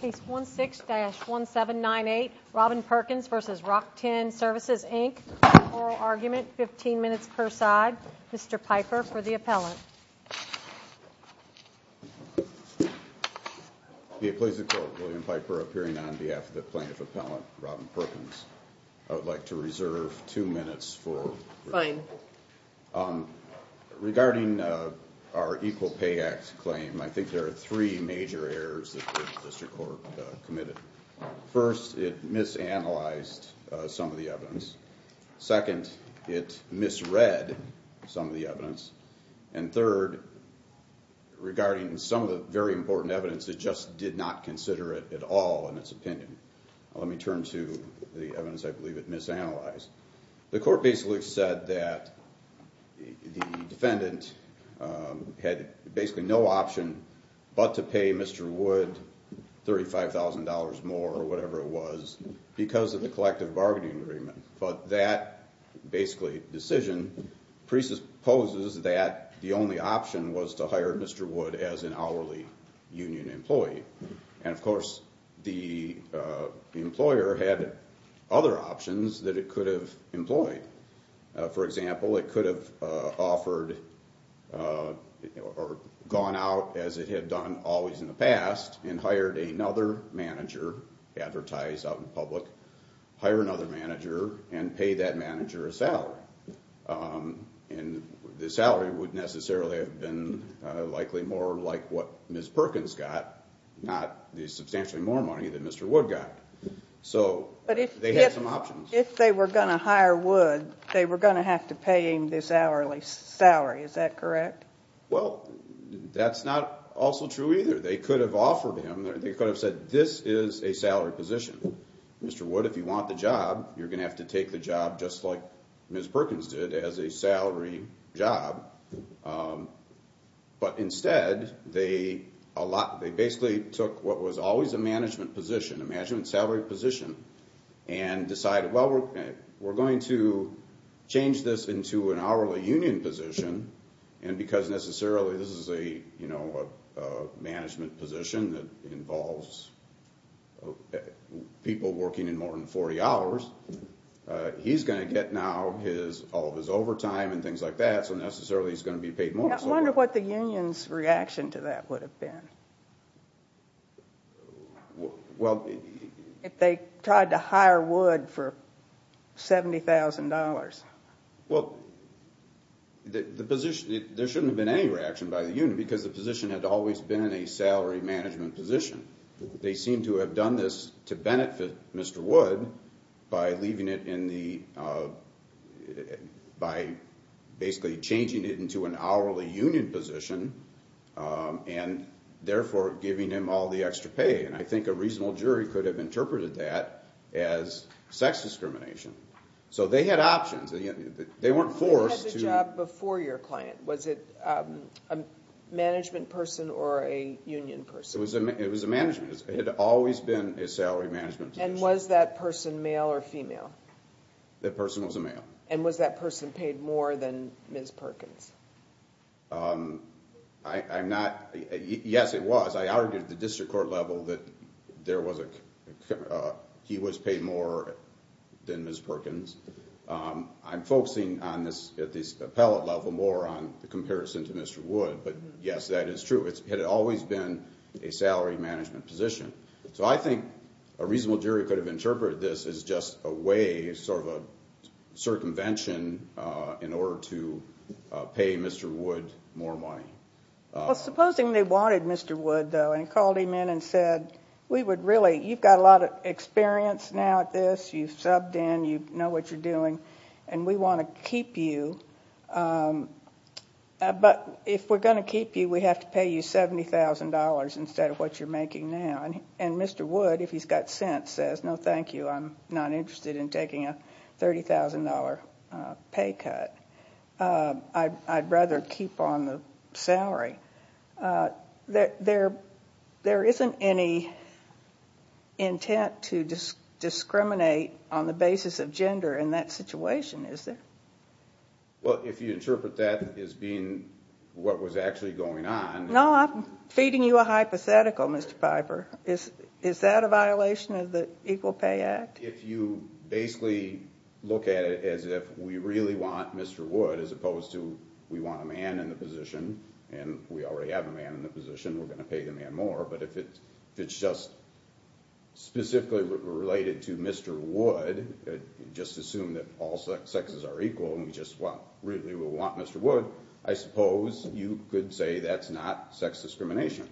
Case 16-1798, Robin Perkins v. Rock-Tenn Services, Inc. Oral argument, 15 minutes per side. Mr. Piper for the appellant. Please record William Piper appearing on behalf of the plaintiff appellant, Robin Perkins. I would like to reserve two minutes for... Fine. Regarding our Equal Pay Act claim, I think there are three major errors that the District Court committed. First, it misanalyzed some of the evidence. Second, it misread some of the evidence. And third, regarding some of the very important evidence, it just did not consider it at all in its opinion. Let me turn to the evidence I believe it misanalyzed. The court basically said that the defendant had basically no option but to pay Mr. Wood $35,000 more or whatever it was because of the collective bargaining agreement. But that basically decision presupposes that the only option was to hire Mr. Wood as an hourly union employee. And of course, the employer had other options that it could have employed. For example, it could have offered or gone out as it had done always in the past and hired another manager, advertised out in public, hire another manager and pay that manager a salary. And the salary would necessarily have been likely more like what Ms. Perkins got, not the substantially more money that Mr. Wood got. So they had some options. But if they were going to hire Wood, they were going to have to pay him this hourly salary. Is that correct? Well, that's not also true either. They could have offered him, they could have said this is a salary position. Mr. Wood, if you want the job, you're going to have to take the job just like Ms. Perkins did as a salary job. But instead, they basically took what was always a management position, a management salary position, and decided, well, we're going to change this into an hourly union position. And because necessarily this is a management position that involves people working in more than 40 hours, he's going to get now all of his overtime and things like that, so necessarily he's going to be paid more. I wonder what the union's reaction to that would have been. Well... If they tried to hire Wood for $70,000. Well, the position, there shouldn't have been any reaction by the union because the position had always been in a salary management position. They seem to have done this to benefit Mr. Wood by leaving it in the, by basically changing it into an hourly union position and therefore giving him all the extra pay. And I think a reasonable jury could have interpreted that as sex discrimination. So they had options. They weren't forced to... Who had the job before your client? Was it a management person or a union person? It was a management. It had always been a salary management position. And was that person male or female? That person was a male. And was that person paid more than Ms. Perkins? I'm not... Yes, it was. I argued at the district court level that he was paid more than Ms. Perkins. I'm focusing at this appellate level more on the comparison to Mr. Wood. But yes, that is true. It had always been a salary management position. So I think a reasonable jury could have interpreted this as just a way, sort of a circumvention in order to pay Mr. Wood more money. Supposing they wanted Mr. Wood, though, and called him in and said, We would really... You've got a lot of experience now at this. You've subbed in. You know what you're doing. And we want to keep you. But if we're going to keep you, we have to pay you $70,000 instead of what you're making now. And Mr. Wood, if he's got sense, says, No, thank you. I'm not interested in taking a $30,000 pay cut. I'd rather keep on the salary. There isn't any intent to discriminate on the basis of gender in that situation, is there? Well, if you interpret that as being what was actually going on... No, I'm feeding you a hypothetical, Mr. Piper. Is that a violation of the Equal Pay Act? If you basically look at it as if we really want Mr. Wood, as opposed to we want a man in the position, and we already have a man in the position, we're going to pay the man more. But if it's just specifically related to Mr. Wood, just assume that all sexes are equal and we just really want Mr. Wood, I suppose you could say that's not sex discrimination.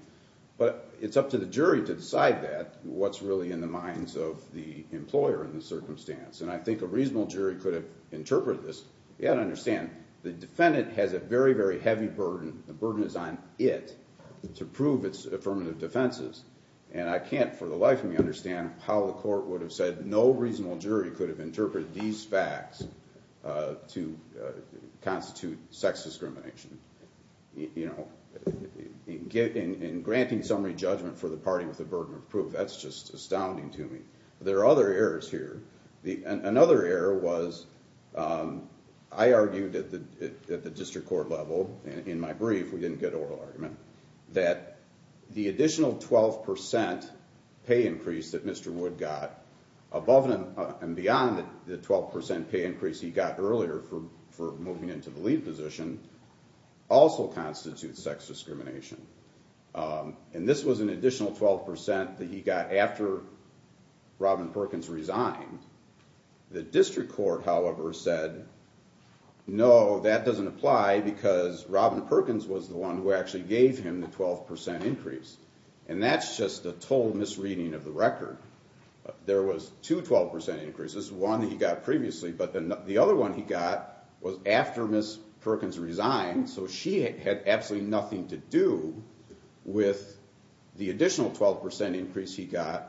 But it's up to the jury to decide that, what's really in the minds of the employer in the circumstance. And I think a reasonable jury could have interpreted this. You've got to understand, the defendant has a very, very heavy burden. The burden is on it to prove its affirmative defenses. And I can't for the life of me understand how the court would have said no reasonable jury could have interpreted these facts to constitute sex discrimination. In granting summary judgment for the party with the burden of proof, that's just astounding to me. There are other errors here. Another error was, I argued at the district court level in my brief, we didn't get oral argument, that the additional 12% pay increase that Mr. Wood got, above and beyond the 12% pay increase he got earlier for moving into the lead position, also constitutes sex discrimination. And this was an additional 12% that he got after Robin Perkins resigned. The district court, however, said, no, that doesn't apply, because Robin Perkins was the one who actually gave him the 12% increase. And that's just a total misreading of the record. There was two 12% increases, one he got previously, but the other one he got was after Ms. Perkins resigned, so she had absolutely nothing to do with the additional 12% increase he got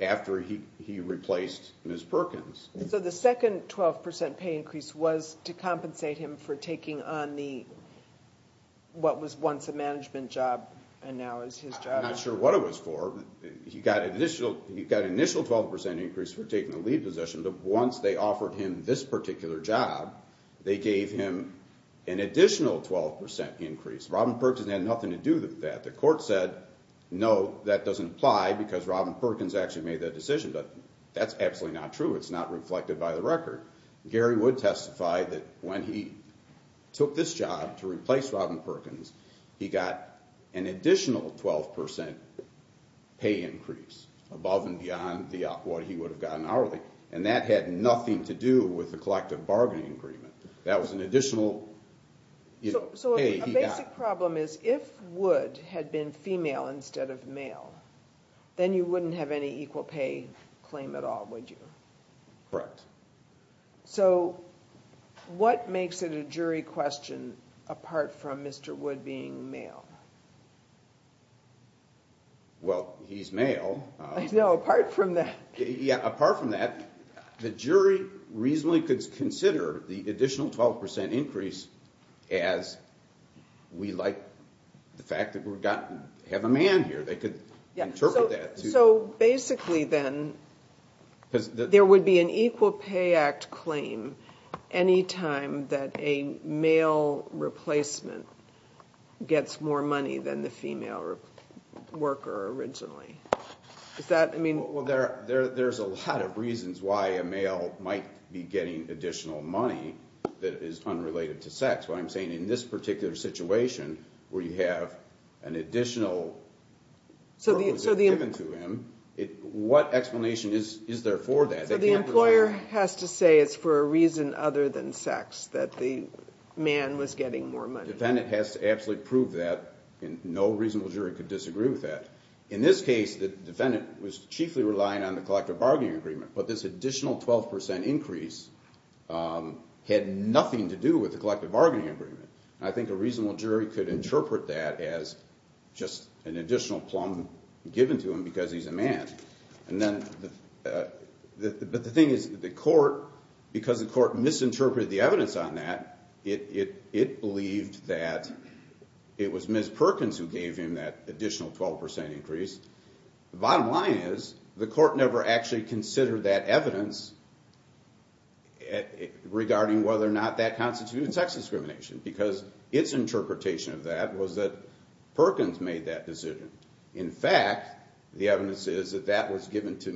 after he replaced Ms. Perkins. So the second 12% pay increase was to compensate him for taking on the, what was once a management job, and now is his job. I'm not sure what it was for. He got an initial 12% increase for taking the lead position, but once they offered him this particular job, they gave him an additional 12% increase. Robin Perkins had nothing to do with that. The court said, no, that doesn't apply, because Robin Perkins actually made that decision, but that's absolutely not true. It's not reflected by the record. Gary Wood testified that when he took this job to replace Robin Perkins, he got an additional 12% pay increase, above and beyond what he would have gotten hourly. And that had nothing to do with the collective bargaining agreement. That was an additional pay he got. So a basic problem is, if Wood had been female instead of male, then you wouldn't have any equal pay claim at all, would you? Correct. So what makes it a jury question, apart from Mr. Wood being male? Well, he's male. I know, apart from that. Yeah, apart from that, the jury reasonably could consider the additional 12% increase as we like the fact that we have a man here. They could interpret that. So basically then, there would be an Equal Pay Act claim any time that a male replacement gets more money than the female worker originally. Well, there's a lot of reasons why a male might be getting additional money that is unrelated to sex. What I'm saying, in this particular situation, where you have an additional promise given to him, what explanation is there for that? So the employer has to say it's for a reason other than sex, that the man was getting more money. The defendant has to absolutely prove that, and no reasonable jury could disagree with that. In this case, the defendant was chiefly relying on the collective bargaining agreement, but this additional 12% increase had nothing to do with the collective bargaining agreement. I think a reasonable jury could interpret that as just an additional plumb given to him because he's a man. But the thing is, because the court misinterpreted the evidence on that, it believed that it was Ms. Perkins who gave him that additional 12% increase. The bottom line is, the court never actually considered that evidence regarding whether or not that constituted sex discrimination because its interpretation of that was that Perkins made that decision. In fact, the evidence is that that was given to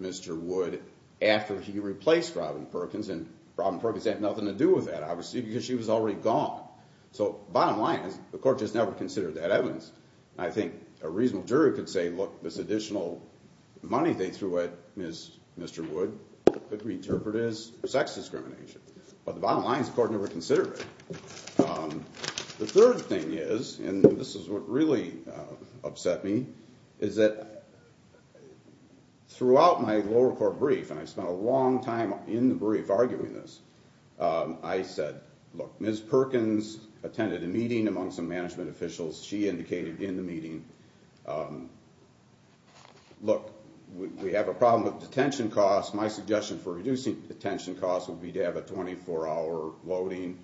Mr. Wood after he replaced Robin Perkins, and Robin Perkins had nothing to do with that, obviously, because she was already gone. So bottom line is, the court just never considered that evidence. I think a reasonable jury could say, look, this additional money they threw at Mr. Wood could be interpreted as sex discrimination. But the bottom line is, the court never considered it. The third thing is, and this is what really upset me, is that throughout my lower court brief, and I spent a long time in the brief arguing this, I said, look, Ms. Perkins attended a meeting among some management officials. She indicated in the meeting, look, we have a problem with detention costs. My suggestion for reducing detention costs would be to have a 24-hour loading,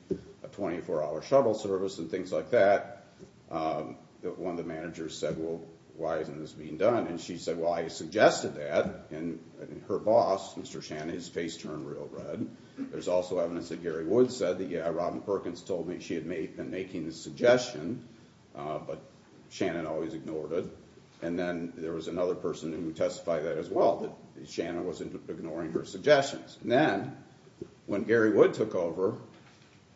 a 24-hour shovel service, and things like that. One of the managers said, well, why isn't this being done? And she said, well, I suggested that, and her boss, Mr. Shannon, his face turned real red. There's also evidence that Gary Wood said that Robin Perkins told me she had been making this suggestion, but Shannon always ignored it. And then there was another person who testified that as well, that Shannon was ignoring her suggestions. And then, when Gary Wood took over,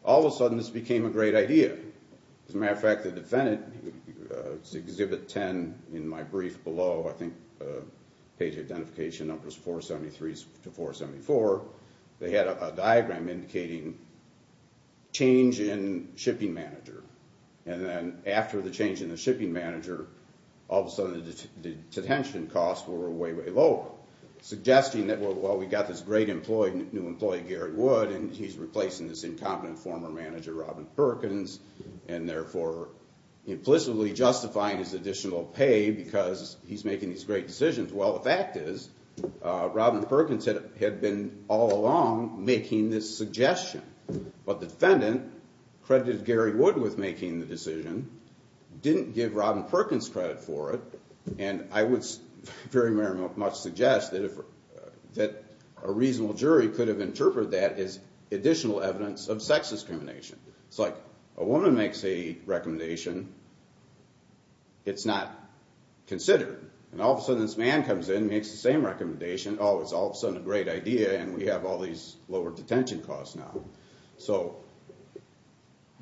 all of a sudden, this became a great idea. As a matter of fact, the defendant, Exhibit 10 in my brief below, I think, page identification numbers 473 to 474, they had a diagram indicating change in shipping manager. And then, after the change in the shipping manager, all of a sudden, the detention costs were way, way lower, suggesting that, well, we got this great employee, new employee, Gary Wood, and he's replacing this incompetent former manager, Robin Perkins, and therefore, implicitly justifying his additional pay because he's making these great decisions. Well, the fact is, the defendant had been, all along, making this suggestion. But the defendant credited Gary Wood with making the decision, didn't give Robin Perkins credit for it, and I would very much suggest that a reasonable jury could have interpreted that as additional evidence of sex discrimination. It's like, a woman makes a recommendation, it's not considered. And all of a sudden, this man comes in, makes the same recommendation, oh, it's all of a sudden a great idea, and we have all these lower detention costs now. So,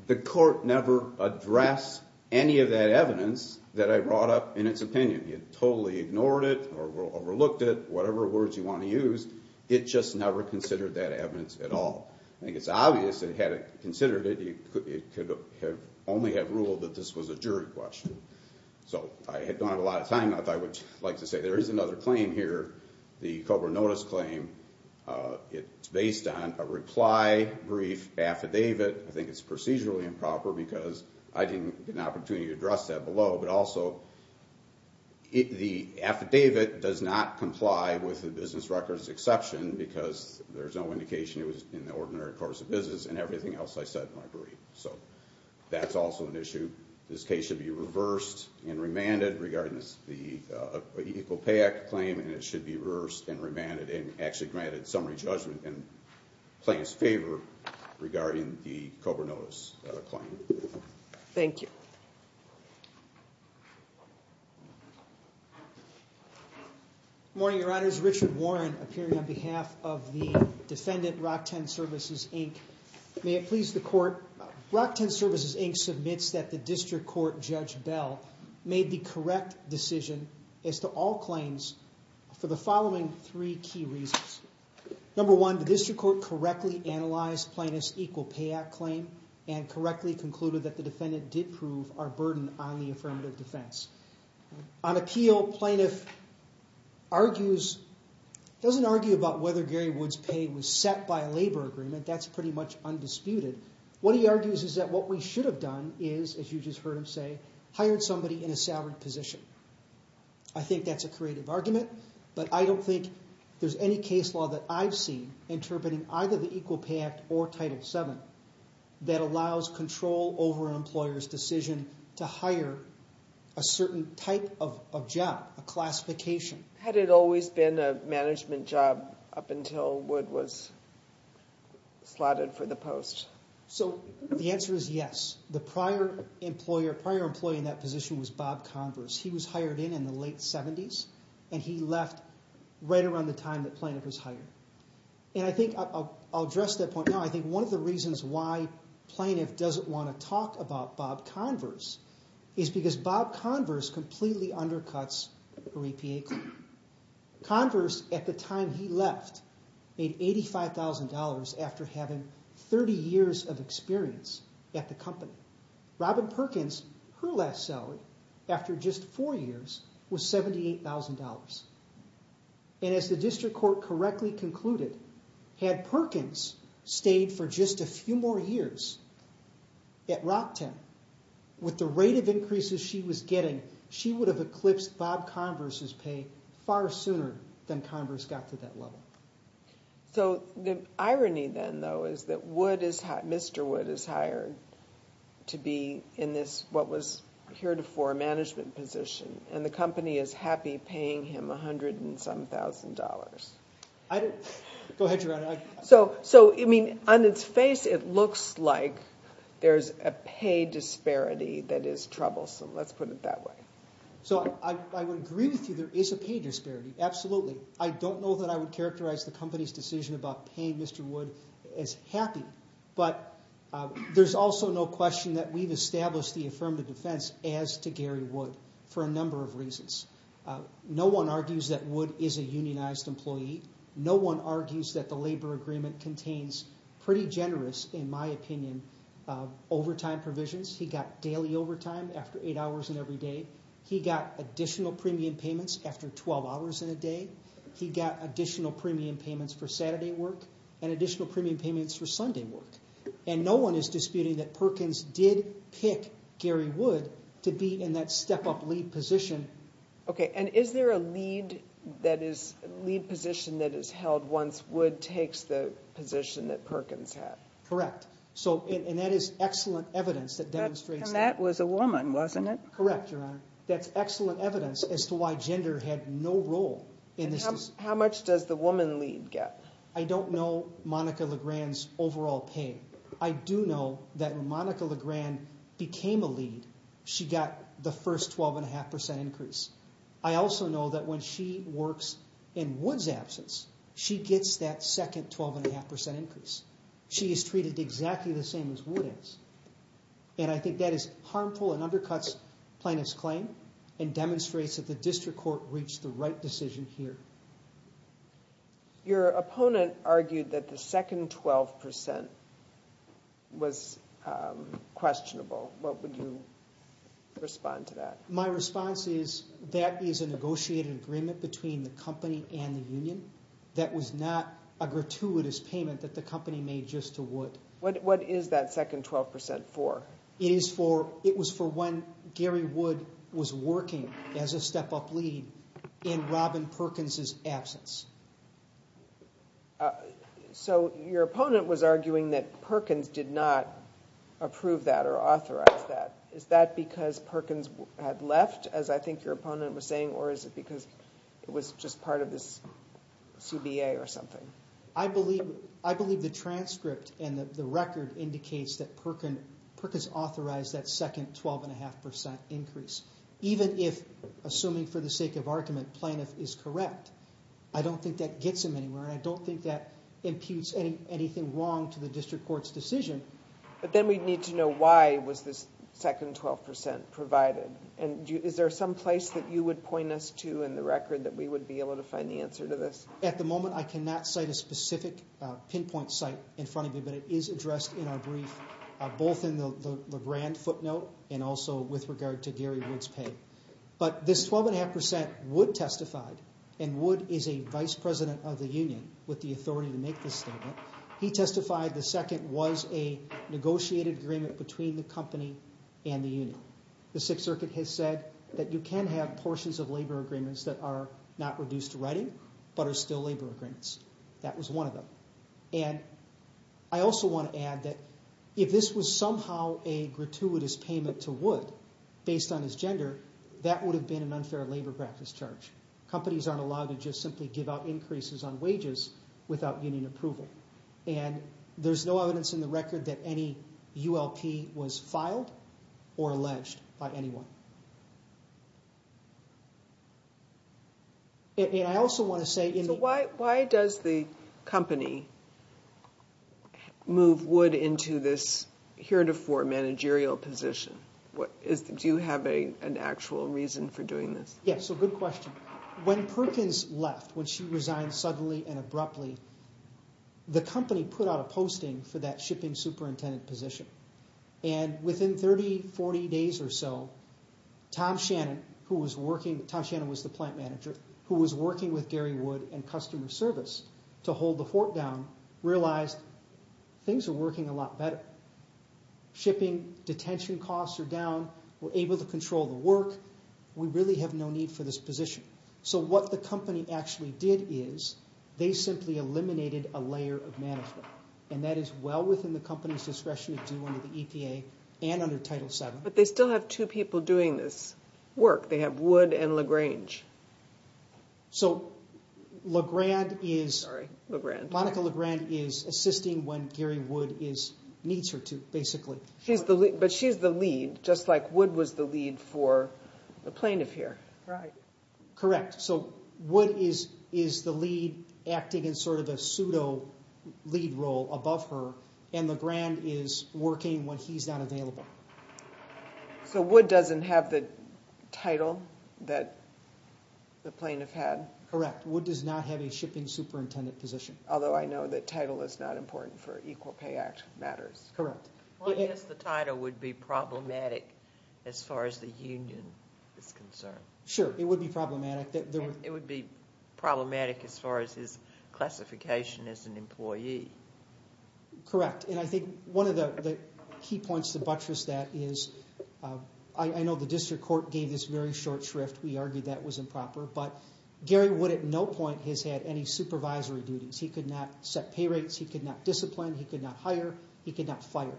the court never addressed any of that evidence that I brought up in its opinion. It totally ignored it, or overlooked it, whatever words you want to use, it just never considered that evidence at all. I think it's obvious that, had it considered it, it could only have ruled that this was a jury question. So, I don't have a lot of time, but I would like to say there is another claim here, the COBRA notice claim. It's based on a reply brief affidavit. I think it's procedurally improper, because I didn't get an opportunity to address that below, but also, the affidavit does not comply with the business records exception, because there's no indication it was in the ordinary course of business, and everything else I said in my brief. So, that's also an issue. This case should be reversed and remanded regarding the Equal Pay Act claim, and it should be reversed and remanded, and actually granted summary judgment and claims favor regarding the COBRA notice claim. Thank you. Good morning, Your Honors. Richard Warren, appearing on behalf of the defendant, ROC-10 Services, Inc. May it please the Court, ROC-10 Services, Inc. submits that the District Court Judge Bell made the correct decision as to all claims for the following three key reasons. Number one, the District Court correctly analyzed Plaintiff's Equal Pay Act claim and correctly concluded that the defendant did prove our burden on the affirmative defense. On appeal, Plaintiff argues, doesn't argue about whether Gary Wood's pay was set by a labor agreement. That's pretty much undisputed. What he argues is that what we should have done is, as you just heard him say, hired somebody in a salaried position. I think that's a creative argument, but I don't think there's any case law that I've seen interpreting either the Equal Pay Act or Title VII that allows control over an employer's decision to hire a certain type of job, a classification. Had it always been a management job up until Wood was slotted for the post? So the answer is yes. The prior employer, prior employee in that position was Bob Converse. He was hired in in the late 70s, and he left right around the time that Plaintiff was hired. And I think I'll address that point now. I think one of the reasons why Plaintiff doesn't want to talk about Bob Converse is because Bob Converse completely undercuts her EPA claim. Converse, at the time he left, made $85,000 after having 30 years of experience at the company. Robin Perkins, her last salary, after just four years, was $78,000. And as the district court correctly concluded, had Perkins stayed for just a few more years at Rockton with the rate of increases she was getting, she would have eclipsed Bob Converse's pay far sooner than Converse got to that level. So the irony then, though, is that Mr. Wood is hired to be in this, what was heretofore a management position, and the company is happy paying him a hundred and some thousand dollars. Go ahead, Your Honor. So, I mean, on its face, it looks like there's a pay disparity that is troublesome. Let's put it that way. So I would agree with you there is a pay disparity. Absolutely. I don't know that I would characterize the company's decision about paying Mr. Wood as happy. But there's also no question that we've established the affirmative defense as to Gary Wood for a number of reasons. No one argues that Wood is a unionized employee. No one argues that the labor agreement contains pretty generous, in my opinion, overtime provisions. He got daily overtime after eight hours in every day. He got additional premium payments after 12 hours in a day. He got additional premium payments for Saturday work and additional premium payments for Sunday work. And no one is disputing that Perkins did pick Gary Wood to be in that step-up lead position. Okay, and is there a lead position that is held once Wood takes the position that Perkins had? Correct. And that is excellent evidence that demonstrates that. And that was a woman, wasn't it? Correct, Your Honor. That's excellent evidence as to why gender had no role in this decision. How much does the woman lead get? I don't know Monica Legrand's overall pay. I do know that when Monica Legrand became a lead, she got the first 12.5% increase. I also know that when she works in Wood's absence, she gets that second 12.5% increase. She is treated exactly the same as Wood is. And I think that is harmful and undercuts Plaintiff's claim and demonstrates that the district court reached the right decision here. Your opponent argued that the second 12% was questionable. What would you respond to that? My response is that is a negotiated agreement between the company and the union that was not a gratuitous payment that the company made just to Wood. What is that second 12% for? It was for when Gary Wood was working as a step-up lead in Robin Perkins' absence. So your opponent was arguing that Perkins did not approve that or authorize that. Is that because Perkins had left, as I think your opponent was saying, or is it because it was just part of this CBA or something? I believe the transcript and the record indicates that Perkins authorized that second 12.5% increase, even if, assuming for the sake of argument, Plaintiff is correct. I don't think that gets him anywhere, and I don't think that imputes anything wrong to the district court's decision. But then we'd need to know why was this second 12% provided. Is there some place that you would point us to in the record that we would be able to find the answer to this? At the moment, I cannot cite a specific pinpoint site in front of me, but it is addressed in our brief, both in the LeBrand footnote and also with regard to Gary Wood's pay. But this 12.5% Wood testified, and Wood is a vice president of the union with the authority to make this statement. He testified the second was a negotiated agreement between the company and the union. The Sixth Circuit has said that you can have portions of labor agreements that are not reduced to writing but are still labor agreements. That was one of them. And I also want to add that if this was somehow a gratuitous payment to Wood based on his gender, that would have been an unfair labor practice charge. Companies aren't allowed to just simply give out increases on wages without union approval. And there's no evidence in the record that any ULP was filed or alleged by anyone. And I also want to say... Why does the company move Wood into this heretofore managerial position? Do you have an actual reason for doing this? Yes, so good question. When Perkins left, when she resigned suddenly and abruptly, the company put out a posting for that shipping superintendent position. And within 30, 40 days or so, Tom Shannon, who was working... Tom Shannon was the plant manager who was working with Gary Wood and customer service to hold the fort down, realized things are working a lot better. Shipping detention costs are down. We're able to control the work. We really have no need for this position. So what the company actually did is they simply eliminated a layer of management. And that is well within the company's discretion to do under the EPA and under Title VII. But they still have two people doing this work. They have Wood and LaGrange. So LaGrande is... Sorry, LaGrande. Monica LaGrande is assisting when Gary Wood needs her to, basically. But she's the lead, just like Wood was the lead for the plaintiff here. Right. Correct, so Wood is the lead acting in sort of a pseudo-lead role above her, and LaGrande is working when he's not available. So Wood doesn't have the title that the plaintiff had? Correct. Wood does not have a shipping superintendent position. Although I know that title is not important for Equal Pay Act matters. Correct. Well, I guess the title would be problematic as far as the union is concerned. Sure, it would be problematic. It would be problematic as far as his classification as an employee. Correct. And I think one of the key points to buttress that is I know the district court gave this very short shrift. We argued that was improper. But Gary Wood at no point has had any supervisory duties. He could not set pay rates. He could not discipline. He could not hire. He could not fire.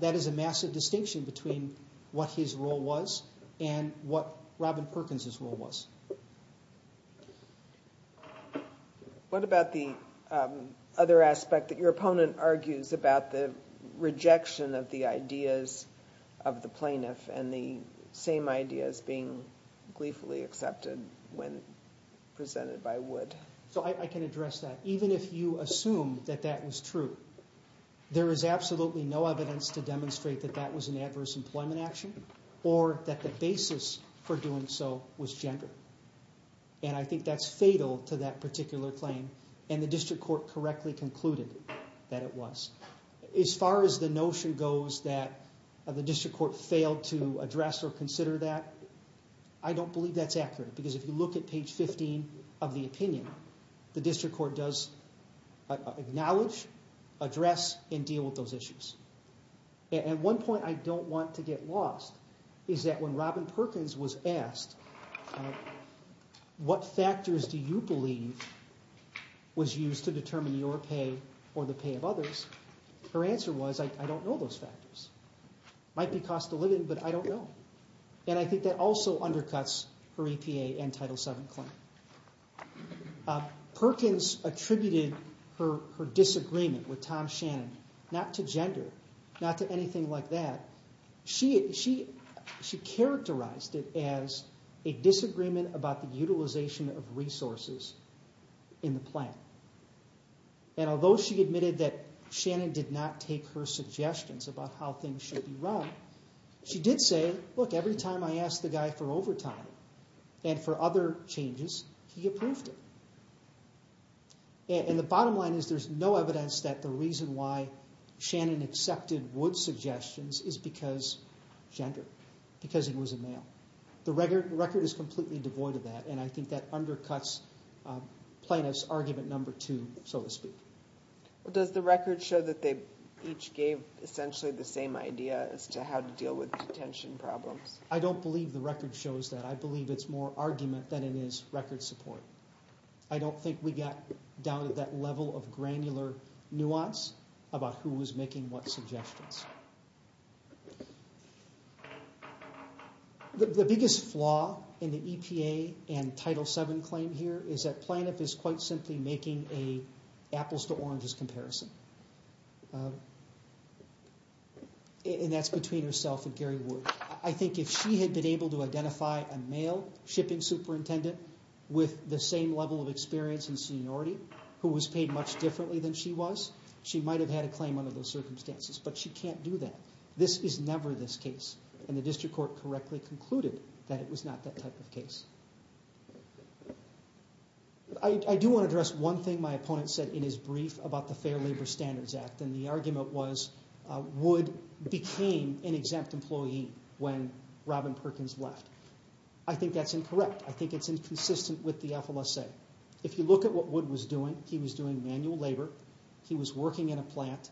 That is a massive distinction between what his role was and what Robin Perkins' role was. What about the other aspect that your opponent argues about the rejection of the ideas of the plaintiff and the same ideas being gleefully accepted when presented by Wood? So I can address that. Even if you assume that that was true, there is absolutely no evidence to demonstrate that that was an adverse employment action or that the basis for doing so was gender. And I think that's fatal to that particular claim. And the district court correctly concluded that it was. As far as the notion goes that the district court failed to address or consider that, I don't believe that's accurate because if you look at page 15 of the opinion, the district court does acknowledge, address, and deal with those issues. And one point I don't want to get lost is that when Robin Perkins was asked, what factors do you believe was used to determine your pay or the pay of others, her answer was, I don't know those factors. It might be cost of living, but I don't know. And I think that also undercuts her EPA and Title VII claim. Perkins attributed her disagreement with Tom Shannon, not to gender, not to anything like that. She characterized it as a disagreement about the utilization of resources in the plan. And although she admitted that Shannon did not take her suggestions about how things should be run, she did say, look, every time I asked the guy for overtime and for other changes, he approved it. And the bottom line is there's no evidence that the reason why Shannon accepted Wood's suggestions is because gender, because he was a male. The record is completely devoid of that, and I think that undercuts plaintiff's argument number two, so to speak. Does the record show that they each gave essentially the same idea as to how to deal with detention problems? I don't believe the record shows that. I believe it's more argument than it is record support. I don't think we got down to that level of granular nuance about who was making what suggestions. The biggest flaw in the EPA and Title VII claim here is that plaintiff is quite simply making an apples-to-oranges comparison, and that's between herself and Gary Wood. I think if she had been able to identify a male shipping superintendent with the same level of experience and seniority who was paid much differently than she was, she might have had a claim under those circumstances, but she can't do that. This is never this case, and the district court correctly concluded that it was not that type of case. I do want to address one thing my opponent said in his brief about the Fair Labor Standards Act, and the argument was Wood became an exempt employee when Robin Perkins left. I think that's incorrect. I think it's inconsistent with the FLSA. If you look at what Wood was doing, he was doing manual labor, he was working in a plant,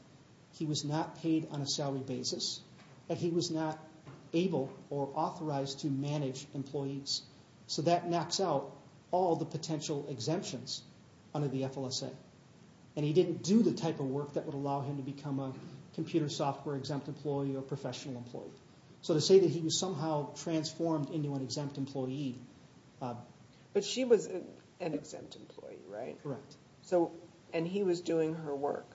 he was not paid on a salary basis, and he was not able or authorized to manage employees. So that knocks out all the potential exemptions under the FLSA, and he didn't do the type of work that would allow him to become a computer software exempt employee or professional employee. So to say that he was somehow transformed into an exempt employee... But she was an exempt employee, right? Correct. And he was doing her work?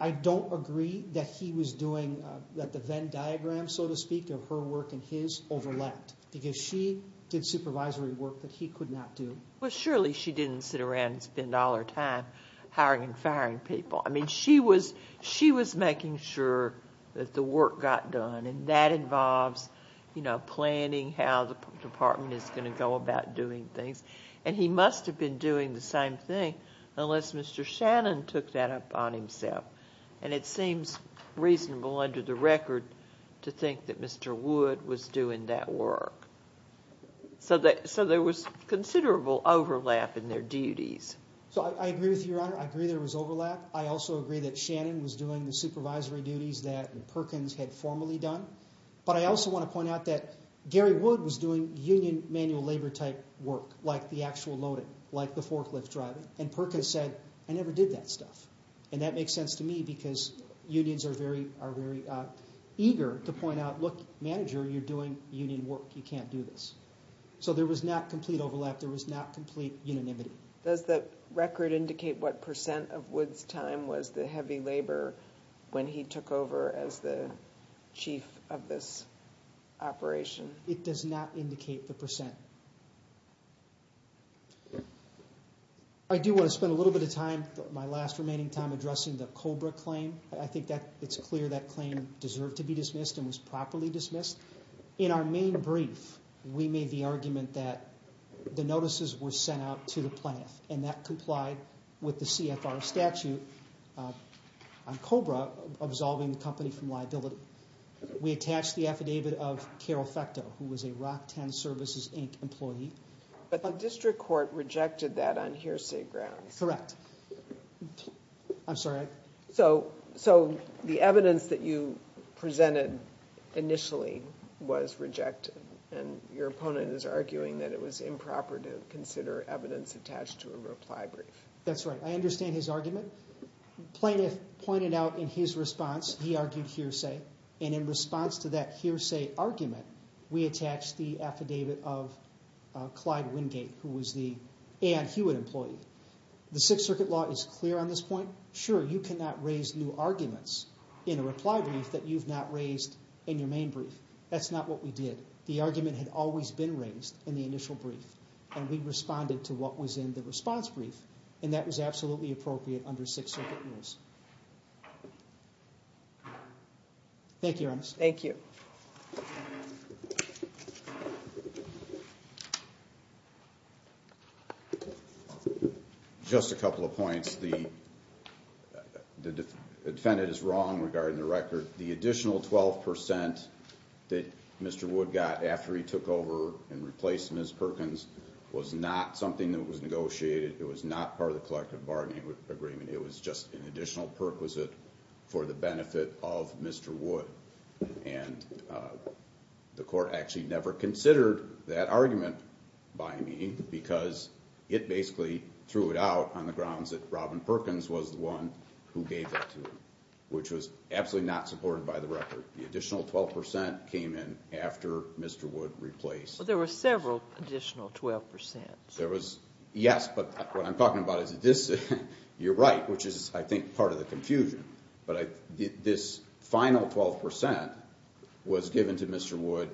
I don't agree that he was doing... that the Venn diagram, so to speak, of her work and his overlapped, because she did supervisory work that he could not do. Well, surely she didn't sit around and spend all her time hiring and firing people. I mean, she was making sure that the work got done, and that involves, you know, planning how the department is going to go about doing things, and he must have been doing the same thing unless Mr. Shannon took that up on himself. And it seems reasonable under the record to think that Mr. Wood was doing that work. So there was considerable overlap in their duties. So I agree with you, Your Honor. I agree there was overlap. I also agree that Shannon was doing the supervisory duties that Perkins had formerly done, but I also want to point out that Gary Wood was doing union manual labor-type work, like the actual loading, like the forklift driving, and Perkins said, I never did that stuff. And that makes sense to me, because unions are very eager to point out, look, manager, you're doing union work, you can't do this. So there was not complete overlap, there was not complete unanimity. Does the record indicate what percent of Wood's time was the heavy labor when he took over as the chief of this operation? It does not indicate the percent. I do want to spend a little bit of time, my last remaining time, addressing the Cobra claim. I think it's clear that claim deserved to be dismissed and was properly dismissed. In our main brief, we made the argument that the notices were sent out to the plaintiff, and that complied with the CFR statute on Cobra absolving the company from liability. We attached the affidavit of Carol Fekto, who was a Rock 10 Services, Inc. employee. But the district court rejected that on hearsay grounds. Correct. I'm sorry? So the evidence that you presented initially was rejected, and your opponent is arguing that it was improper to consider evidence attached to a reply brief. That's right. I understand his argument. The plaintiff pointed out in his response he argued hearsay, and in response to that hearsay argument, we attached the affidavit of Clyde Wingate, who was the Ann Hewitt employee. The Sixth Circuit law is clear on this point. Sure, you cannot raise new arguments in a reply brief that you've not raised in your main brief. That's not what we did. The argument had always been raised in the initial brief, and we responded to what was in the response brief, and that was absolutely appropriate under Sixth Circuit rules. Thank you, Your Honor. Thank you. Just a couple of points. The defendant is wrong regarding the record. The additional 12% that Mr. Wood got after he took over and replaced Ms. Perkins was not something that was negotiated. It was not part of the collective bargaining agreement. It was just an additional perquisite for the benefit of Mr. Wood, and the court actually never considered that argument by me because it basically threw it out on the grounds that Robin Perkins was the one who gave that to him, which was absolutely not supported by the record. The additional 12% came in after Mr. Wood replaced Ms. Perkins. Well, there were several additional 12%. Yes, but what I'm talking about is this. You're right, which is, I think, part of the confusion. But this final 12% was given to Mr. Wood,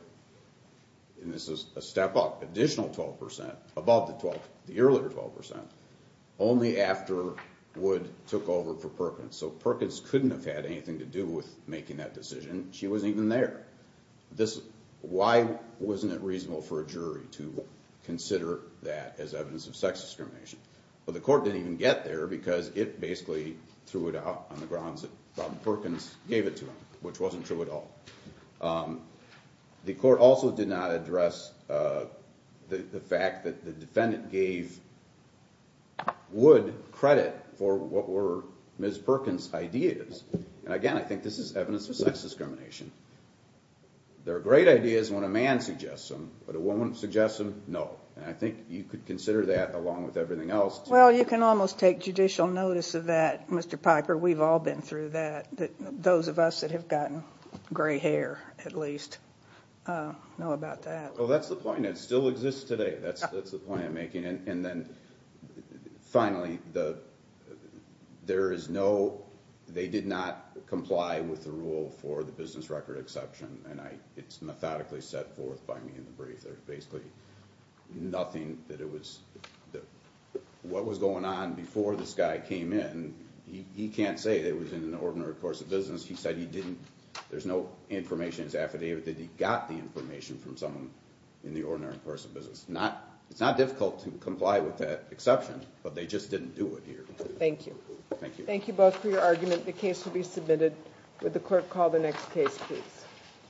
and this is a step up, additional 12% above the earlier 12%, only after Wood took over for Perkins. So Perkins couldn't have had anything to do with making that decision. She wasn't even there. Why wasn't it reasonable for a jury to consider that as evidence of sex discrimination? Well, the court didn't even get there because it basically threw it out on the grounds that Robin Perkins gave it to him, which wasn't true at all. The court also did not address the fact that the defendant gave Wood credit for what were Ms. Perkins' ideas. Again, I think this is evidence of sex discrimination. There are great ideas when a man suggests them, but a woman suggests them? No. I think you could consider that along with everything else. Well, you can almost take judicial notice of that, Mr. Piker. We've all been through that, those of us that have gotten gray hair, at least, know about that. Well, that's the point. It still exists today. That's the point I'm making. Finally, they did not comply with the rule for the business record exception, and it's methodically set forth by me in the brief. There's basically nothing that it was. What was going on before this guy came in, he can't say that it was in an ordinary course of business. He said there's no information that's affidavit that he got the information from someone in the ordinary course of business. It's not difficult to comply with that exception, but they just didn't do it here. Thank you. Thank you. Thank you both for your argument. The case will be submitted. Would the clerk call the next case, please?